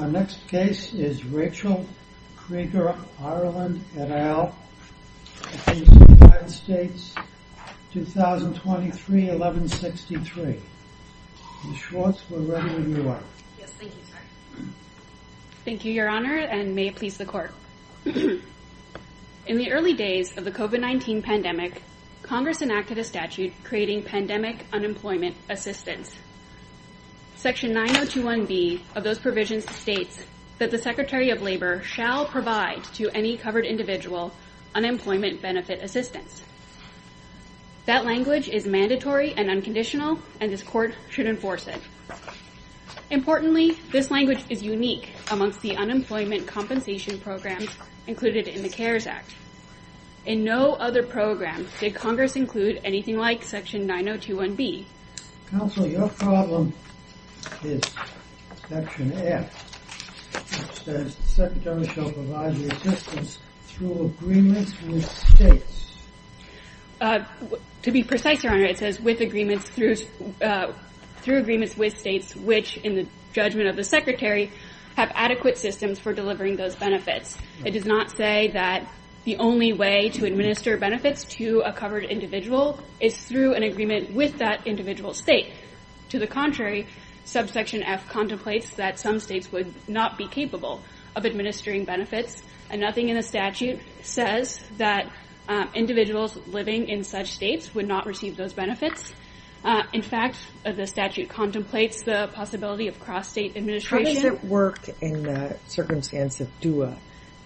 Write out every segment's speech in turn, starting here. Our next case is Rachel Creager Ireland et al. United States, 2023-1163. Ms. Schwartz, we're ready when you are. Yes, thank you, sir. Thank you, Your Honor, and may it please the Court. In the early days of the COVID-19 pandemic, Congress enacted a statute creating pandemic unemployment assistance. Section 9021B of those provisions states that the Secretary of Labor shall provide to any covered individual unemployment benefit assistance. That language is mandatory and unconditional, and this Court should enforce it. Importantly, this language is unique amongst the unemployment compensation programs included in the CARES Act. In no other program did Congress include anything like Section 9021B. Counsel, your problem is Section F, which says the Secretary shall provide the assistance through agreements with states. To be precise, Your Honor, it says with agreements through agreements with states which, in the judgment of the Secretary, have adequate systems for delivering those benefits. It does not say that the only way to administer benefits to a covered individual is through an agreement with that individual state. To the contrary, subsection F contemplates that some states would not be capable of administering benefits, and nothing in the statute says that individuals living in such states would not receive those benefits. In fact, the statute contemplates the possibility of cross-state administration. How does it work in the circumstance of DUA,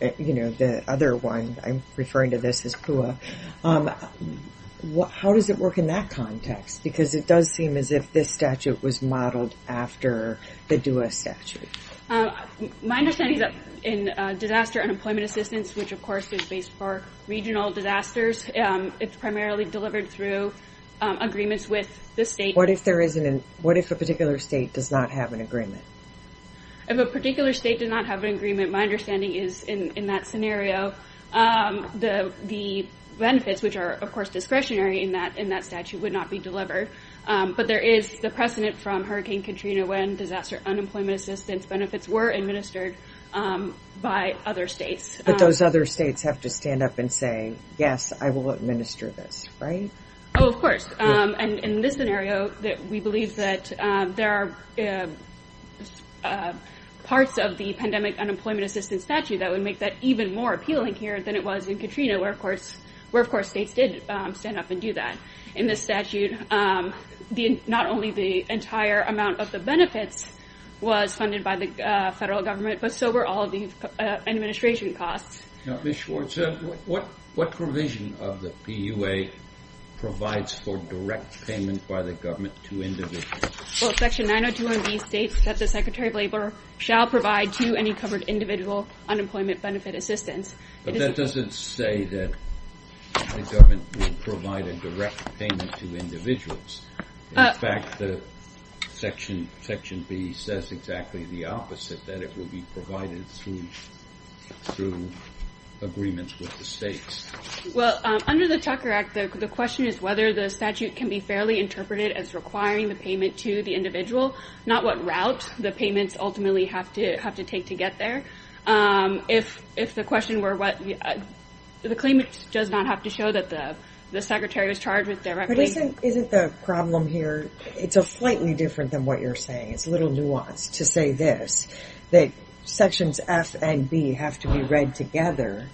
the other one? I'm referring to this as PUA. How does it work in that context? Because it does seem as if this statute was modeled after the DUA statute. My understanding is that in disaster unemployment assistance, which, of course, is based for regional disasters, it's primarily delivered through agreements with the state. What if a particular state does not have an agreement? If a particular state does not have an agreement, my understanding is, in that scenario, the benefits, which are, of course, discretionary in that statute, would not be delivered. But there is the precedent from Hurricane Katrina when disaster unemployment assistance benefits were administered by other states. But those other states have to stand up and say, yes, I will administer this, right? Oh, of course. And in this scenario, we believe that there are parts of the pandemic unemployment assistance statute that would make that even more appealing here than it was in Katrina, where, of course, states did stand up and do that. In this statute, not only the entire amount of the benefits was funded by the federal government, but so were all of the administration costs. Now, Ms. Schwartz, what provision of the PUA provides for direct payment by the government to individuals? Well, Section 902 of these states that the Secretary of Labor shall provide to any covered individual unemployment benefit assistance. But that doesn't say that the government will provide a direct payment to individuals. In fact, Section B says exactly the opposite, that it will be provided through agreements with the states. Well, under the Tucker Act, the question is whether the statute can be fairly interpreted as requiring the payment to the individual, not what route the payments ultimately have to take to get there. If the question were what the claimant does not have to show that the secretary was charged with direct payment. But isn't the problem here, it's a slightly different than what you're saying. It's a little nuanced to say this, that Sections F and B have to be read together.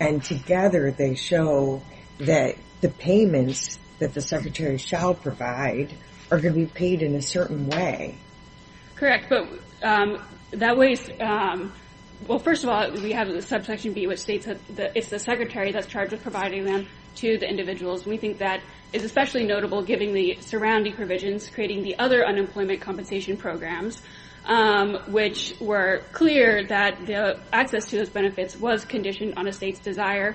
And together, they show that the payments that the secretary shall provide are going to be paid in a certain way. Correct. But that way, well, first of all, we have the Subsection B, which states that it's the secretary that's charged with providing them to the individuals. We think that is especially notable given the surrounding provisions creating the other unemployment compensation programs, which were clear that the access to those benefits was conditioned on a state's desire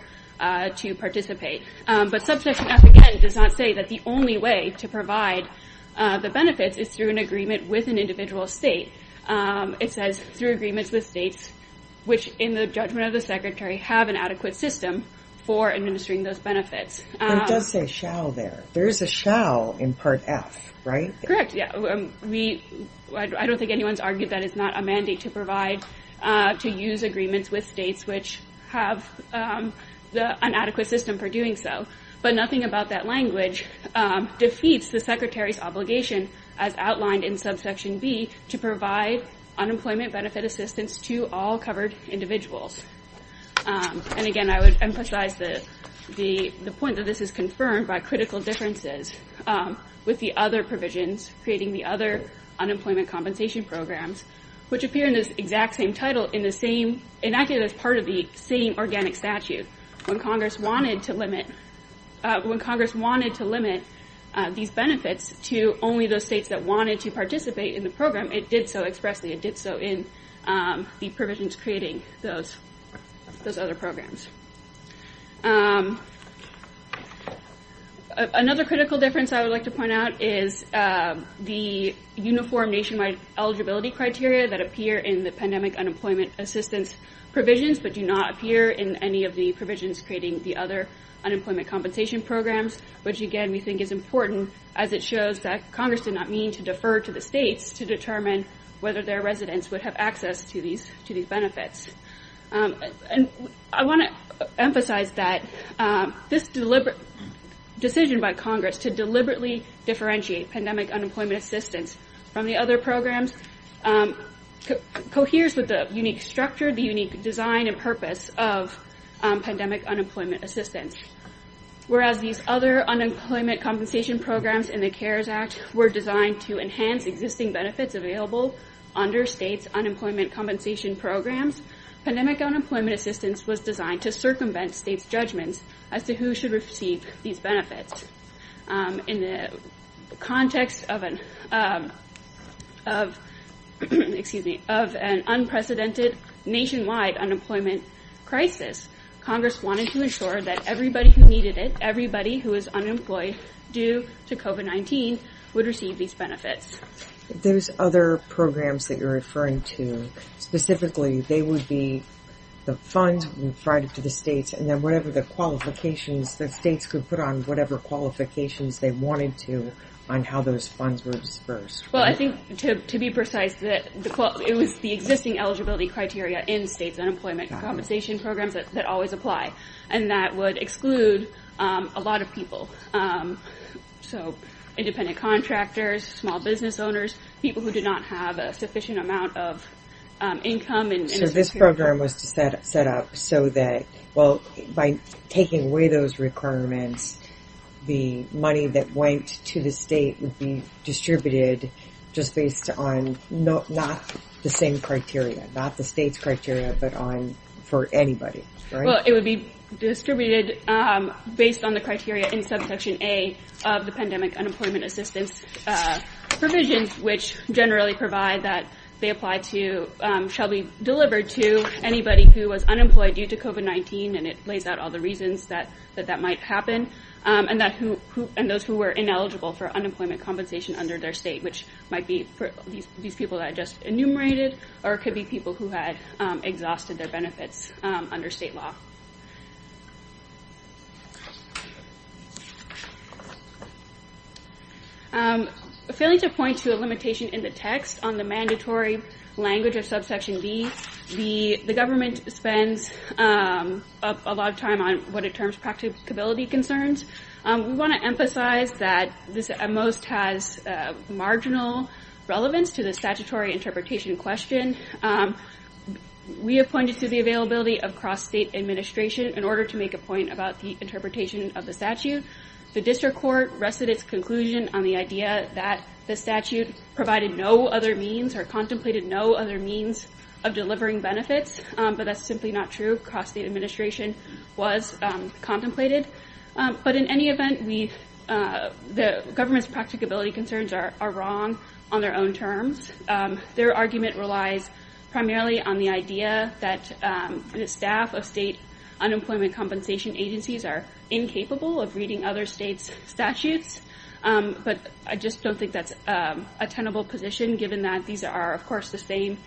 to participate. But Subsection F, again, does not say that the only way to provide the benefits is through an agreement with an individual state. It says through agreements with states, which in the judgment of the secretary, have an adequate system for administering those benefits. It does say shall there. There is a shall in Part F, right? Correct. Yeah. I don't think anyone's argued that it's not a mandate to provide, to use agreements with states which have the inadequate system for doing so. But nothing about that language defeats the secretary's obligation, as outlined in Subsection B, to provide unemployment benefit assistance to all covered individuals. And again, I would emphasize the point that this is confirmed by critical differences with the other provisions creating the other unemployment compensation programs, which appear in this exact same title in the same, enacted as part of the same organic statute. When Congress wanted to limit these benefits to only those states that wanted to participate in the program, it did so expressly. It did so in the provisions creating those those other programs. Another critical difference I would like to point out is the uniform nationwide eligibility criteria that appear in the pandemic unemployment assistance provisions, but do not appear in any of the provisions creating the other unemployment compensation programs. Which, again, we think is important as it shows that Congress did not mean to defer to the states to determine whether their residents would have access to these to these benefits. And I want to emphasize that this deliberate decision by Congress to deliberately differentiate pandemic unemployment assistance from the other programs coheres with the unique structure, the unique design and purpose of pandemic unemployment assistance. Whereas these other unemployment compensation programs in the CARES Act were designed to enhance existing benefits available under states' unemployment compensation programs, pandemic unemployment assistance was designed to circumvent states' judgments as to who should receive these benefits. In the context of an, excuse me, of an unprecedented nationwide unemployment crisis, Congress wanted to ensure that everybody who needed it, everybody who was unemployed due to COVID-19 would receive these benefits. Those other programs that you're referring to specifically, they would be the funds provided to the states and then whatever the qualifications that states could put on whatever qualifications they wanted to on how those funds were disbursed. Well, I think to be precise that it was the existing eligibility criteria in states' unemployment compensation programs that always apply. And that would exclude a lot of people. So independent contractors, small business owners, people who did not have a sufficient amount of income. So this program was set up so that, well, by taking away those requirements, the money that went to the state would be distributed just based on not the same criteria, not the state's criteria, but on for anybody. Well, it would be distributed based on the criteria in subsection A of the pandemic unemployment assistance provisions, which generally provide that they apply to, shall be delivered to anybody who was unemployed due to COVID-19. And it lays out all the reasons that that might happen and that who and those who were ineligible for unemployment compensation under their state, which might be for these people that I just enumerated or could be people who had exhausted their benefits under state law. Failing to point to a limitation in the text on the mandatory language of subsection B, the government spends a lot of time on what it terms practicability concerns. We want to emphasize that this at most has marginal relevance to the statutory interpretation question. We have pointed to the availability of cross-state administration in order to make a point about the interpretation of the statute. The district court rested its conclusion on the idea that the statute provided no other means or contemplated no other means of delivering benefits. But that's simply not true. Cross-state administration was contemplated. But in any event, the government's practicability concerns are wrong on their own terms. Their argument relies primarily on the idea that staff of state unemployment compensation agencies are incapable of reading other states statutes. But I just don't think that's a tenable position, given that these are, of course, the same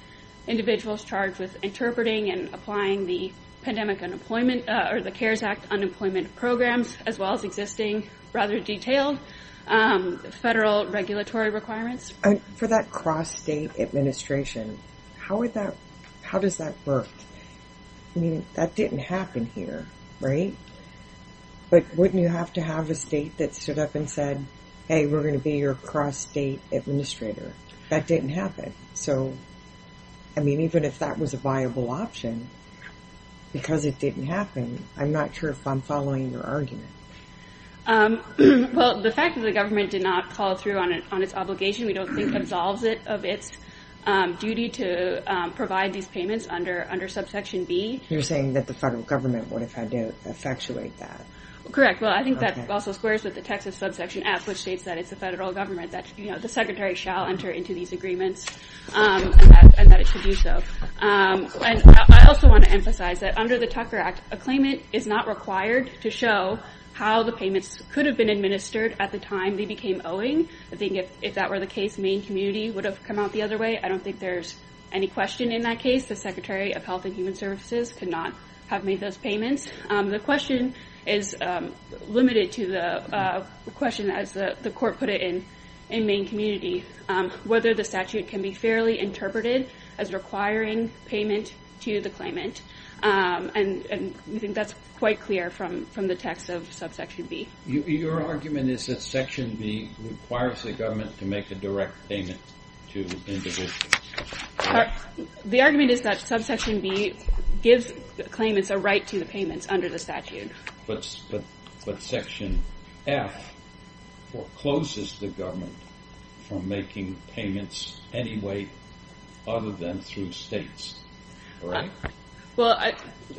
individuals charged with interpreting and applying the Pandemic Unemployment or the CARES Act unemployment programs, as well as existing rather detailed federal regulatory requirements. For that cross-state administration, how does that work? I mean, that didn't happen here, right? But wouldn't you have to have a state that stood up and said, hey, we're going to be your cross-state administrator? That didn't happen. So, I mean, even if that was a viable option, because it didn't happen, I'm not sure if I'm following your argument. Well, the fact that the government did not call through on its obligation, we don't think absolves it of its duty to provide these payments under subsection B. You're saying that the federal government would have had to effectuate that? Correct. Well, I think that also squares with the Texas subsection F, which states that it's the federal government, that the secretary shall enter into these agreements and that it should do so. I also want to emphasize that under the Tucker Act, a claimant is not required to show how the payments could have been administered at the time they became owing. I think if that were the case, Maine community would have come out the other way. I don't think there's any question in that case. The Secretary of Health and Human Services could not have made those payments. The question is limited to the question, as the court put it in Maine community, whether the statute can be fairly interpreted as requiring payment to the claimant. And I think that's quite clear from the text of subsection B. Your argument is that section B requires the government to make a direct payment to individuals. The argument is that subsection B gives claimants a right to the payments under the statute. But section F forecloses the government from making payments anyway, other than through states. It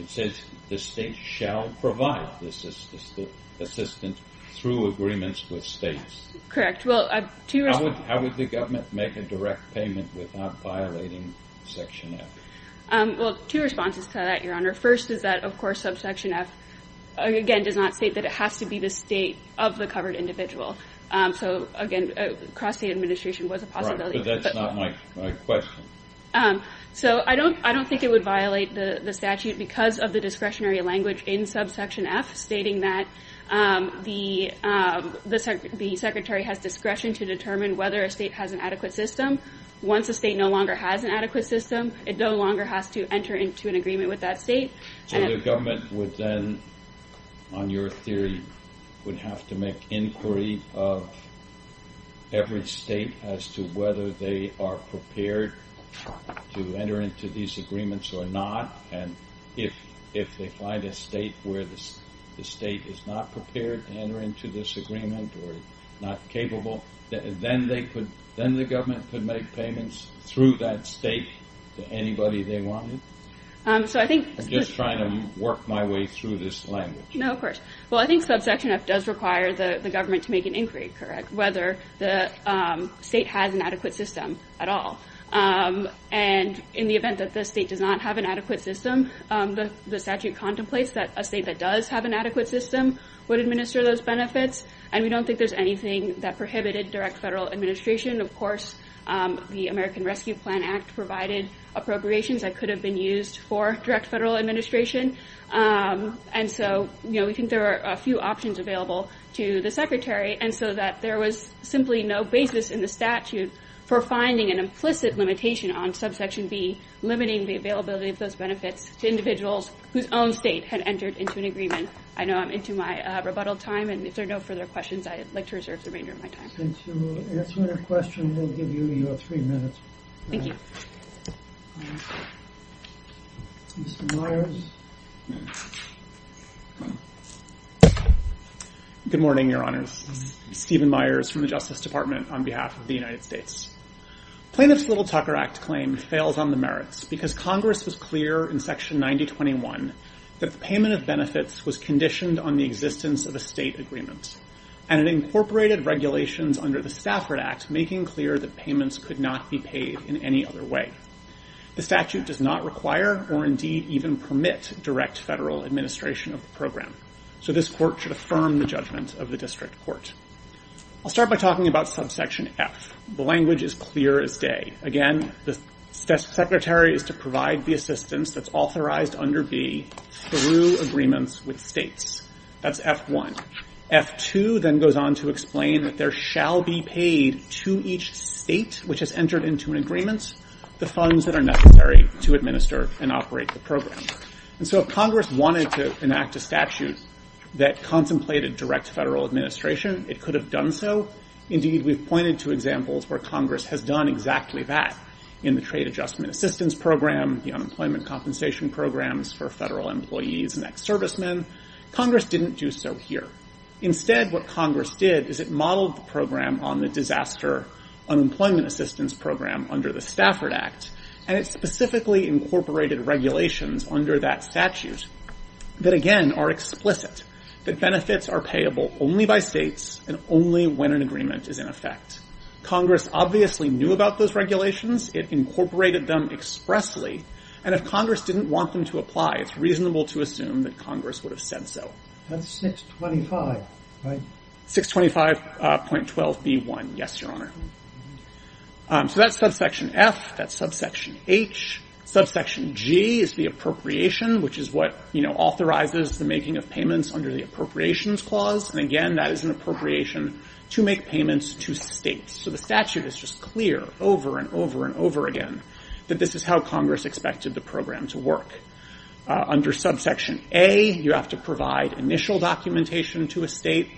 says the state shall provide this assistance through agreements with states. Correct. How would the government make a direct payment without violating section F? First is that, of course, subsection F, again, does not state that it has to be the state of the covered individual. So, again, cross-state administration was a possibility. Right, but that's not my question. So I don't think it would violate the statute because of the discretionary language in subsection F, stating that the Secretary has discretion to determine whether a state has an adequate system. Once a state no longer has an adequate system, it no longer has to enter into an agreement with that state. So the government would then, on your theory, would have to make inquiry of every state as to whether they are prepared to enter into these agreements or not. And if they find a state where the state is not prepared to enter into this agreement or not capable, then the government could make payments through that state to anybody they wanted? I'm just trying to work my way through this language. No, of course. Well, I think subsection F does require the government to make an inquiry, correct, whether the state has an adequate system at all. And in the event that the state does not have an adequate system, the statute contemplates that a state that does have an adequate system would administer those benefits, and we don't think there's anything that prohibited direct federal administration. Of course, the American Rescue Plan Act provided appropriations that could have been used for direct federal administration. And so, you know, we think there are a few options available to the Secretary, and so that there was simply no basis in the statute for finding an implicit limitation on subsection B, limiting the availability of those benefits to individuals whose own state had entered into an agreement. I know I'm into my rebuttal time, and if there are no further questions, I'd like to reserve the remainder of my time. Since you're answering a question, we'll give you your three minutes. Thank you. Mr. Myers. Good morning, Your Honors. Stephen Myers from the Justice Department on behalf of the United States. Plaintiff's Little Tucker Act claim fails on the merits because Congress was clear in Section 9021 that the payment of benefits was conditioned on the existence of a state agreement, and it incorporated regulations under the Stafford Act making clear that payments could not be paid in any other way. The statute does not require or indeed even permit direct federal administration of the program, so this Court should affirm the judgment of the District Court. I'll start by talking about subsection F. The language is clear as day. Again, the Secretary is to provide the assistance that's authorized under B through agreements with states. That's F1. F2 then goes on to explain that there shall be paid to each state which has entered into an agreement the funds that are necessary to administer and operate the program. And so if Congress wanted to enact a statute that contemplated direct federal administration, it could have done so. Indeed, we've pointed to examples where Congress has done exactly that in the Trade Adjustment Assistance Program, the Unemployment Compensation Programs for federal employees and ex-servicemen. Congress didn't do so here. Instead, what Congress did is it modeled the program on the Disaster Unemployment Assistance Program under the Stafford Act, and it specifically incorporated regulations under that statute that, again, are explicit, that benefits are payable only by states and only when an agreement is in effect. Congress obviously knew about those regulations. It incorporated them expressly. And if Congress didn't want them to apply, it's reasonable to assume that Congress would have said so. That's 625, right? 625.12b1, yes, Your Honor. So that's subsection F. That's subsection H. Subsection G is the appropriation, which is what authorizes the making of payments under the Appropriations Clause. And again, that is an appropriation to make payments to states. So the statute is just clear over and over and over again that this is how Congress expected the program to work. Under subsection A, you have to provide initial documentation to a state.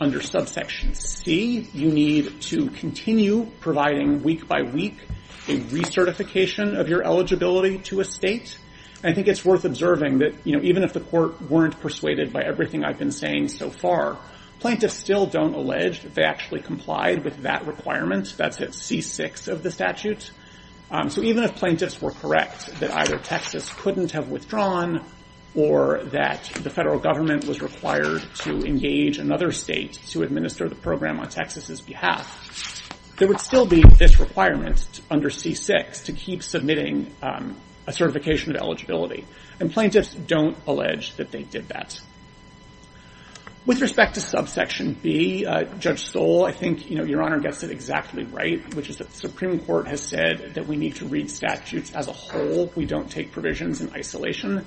Under subsection C, you need to continue providing week by week a recertification of your eligibility to a state. I think it's worth observing that even if the court weren't persuaded by everything I've been saying so far, plaintiffs still don't allege that they actually complied with that requirement. That's at C6 of the statute. So even if plaintiffs were correct that either Texas couldn't have withdrawn or that the federal government was required to engage another state to administer the program on Texas' behalf, there would still be this requirement under C6 to keep submitting a certification of eligibility. And plaintiffs don't allege that they did that. With respect to subsection B, Judge Stoll, I think Your Honor gets it exactly right, which is that the Supreme Court has said that we need to read statutes as a whole. We don't take provisions in isolation.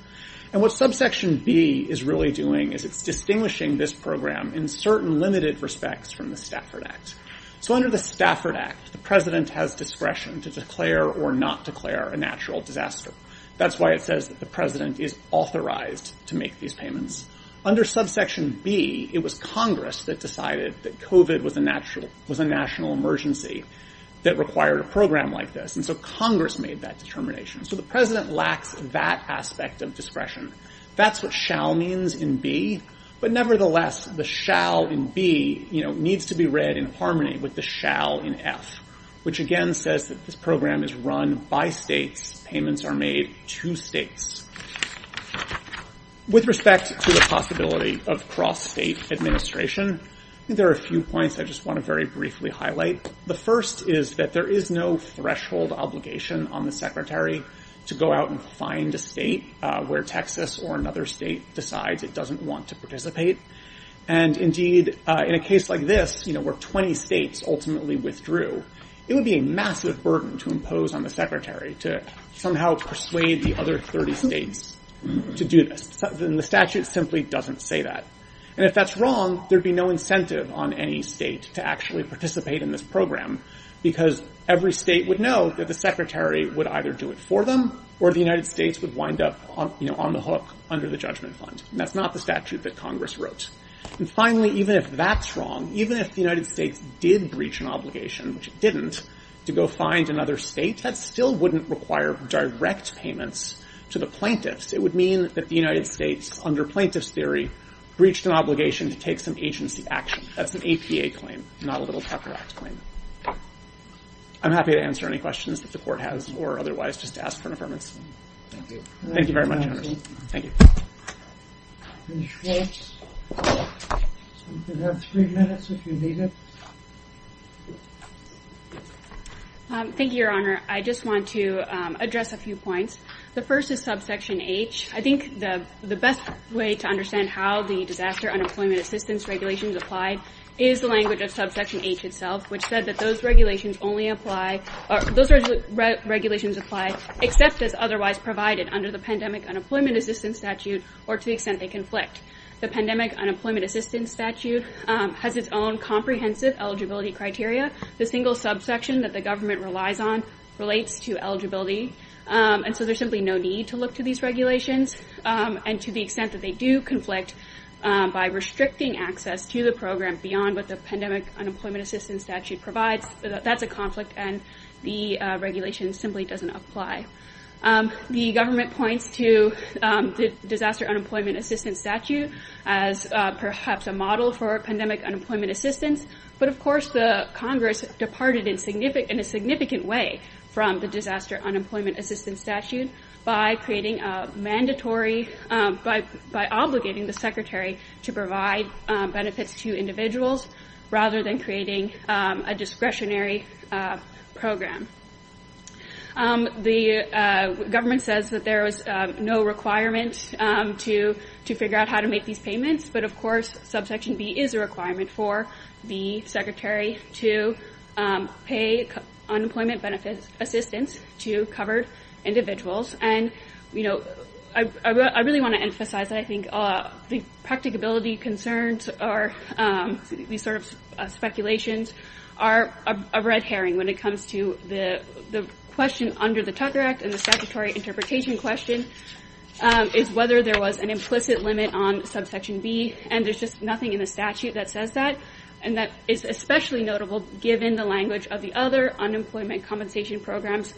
And what subsection B is really doing is it's distinguishing this program in certain limited respects from the Stafford Act. So under the Stafford Act, the president has discretion to declare or not declare a natural disaster. That's why it says that the president is authorized to make these payments. Under subsection B, it was Congress that decided that COVID was a national emergency that required a program like this. And so Congress made that determination. So the president lacks that aspect of discretion. That's what shall means in B. But nevertheless, the shall in B needs to be read in harmony with the shall in F, which again says that this program is run by states. Payments are made to states. With respect to the possibility of cross-state administration, there are a few points I just want to very briefly highlight. The first is that there is no threshold obligation on the secretary to go out and find a state where Texas or another state decides it doesn't want to participate. And indeed, in a case like this, where 20 states ultimately withdrew, it would be a massive burden to impose on the secretary to somehow persuade the other 30 states to do this. And the statute simply doesn't say that. And if that's wrong, there'd be no incentive on any state to actually participate in this program because every state would know that the secretary would either do it for them or the United States would wind up on the hook under the judgment fund. And that's not the statute that Congress wrote. And finally, even if that's wrong, even if the United States did breach an obligation, which it didn't, to go find another state, that still wouldn't require direct payments to the plaintiffs. It would mean that the United States, under plaintiff's theory, breached an obligation to take some agency action. That's an APA claim, not a Little Tucker Act claim. I'm happy to answer any questions that the court has or otherwise, just to ask for an affirmation. Thank you very much, Your Honor. Thank you. Ms. Schwartz, you have three minutes if you need it. Thank you, Your Honor. I just want to address a few points. The first is subsection H. I think the best way to understand how the disaster unemployment assistance regulations apply is the language of subsection H itself, which said that those regulations apply except as otherwise provided under the pandemic unemployment assistance statute or to the extent they conflict. The pandemic unemployment assistance statute has its own comprehensive eligibility criteria. The single subsection that the government relies on relates to eligibility. And so there's simply no need to look to these regulations. And to the extent that they do conflict by restricting access to the program beyond what the pandemic unemployment assistance statute provides, that's a conflict and the regulation simply doesn't apply. The government points to the disaster unemployment assistance statute as perhaps a model for pandemic unemployment assistance. But, of course, the Congress departed in a significant way from the disaster unemployment assistance statute by creating a mandatory, by obligating the secretary to provide benefits to individuals rather than creating a discretionary program. The government says that there is no requirement to figure out how to make these payments. But, of course, subsection B is a requirement for the secretary to pay unemployment benefits assistance to covered individuals. And, you know, I really want to emphasize that I think the practicability concerns are these sort of speculations are a red herring. When it comes to the question under the Tucker Act and the statutory interpretation question is whether there was an implicit limit on subsection B. And there's just nothing in the statute that says that. And that is especially notable given the language of the other unemployment compensation programs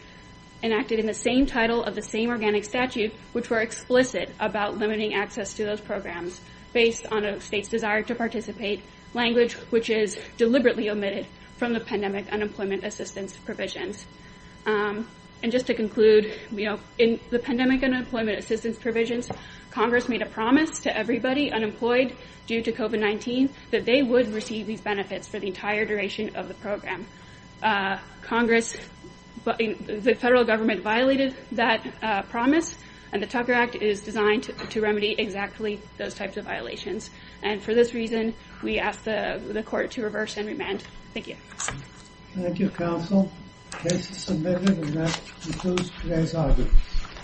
enacted in the same title of the same organic statute, which were explicit about limiting access to those programs based on a state's desire to participate. Language which is deliberately omitted from the pandemic unemployment assistance provisions. And just to conclude, you know, in the pandemic and employment assistance provisions, Congress made a promise to everybody unemployed due to COVID-19 that they would receive these benefits for the entire duration of the program. Congress, the federal government violated that promise. And the Tucker Act is designed to remedy exactly those types of violations. And for this reason, we ask the court to reverse and remand. Thank you. Thank you, counsel. Case submitted and that concludes today's argument.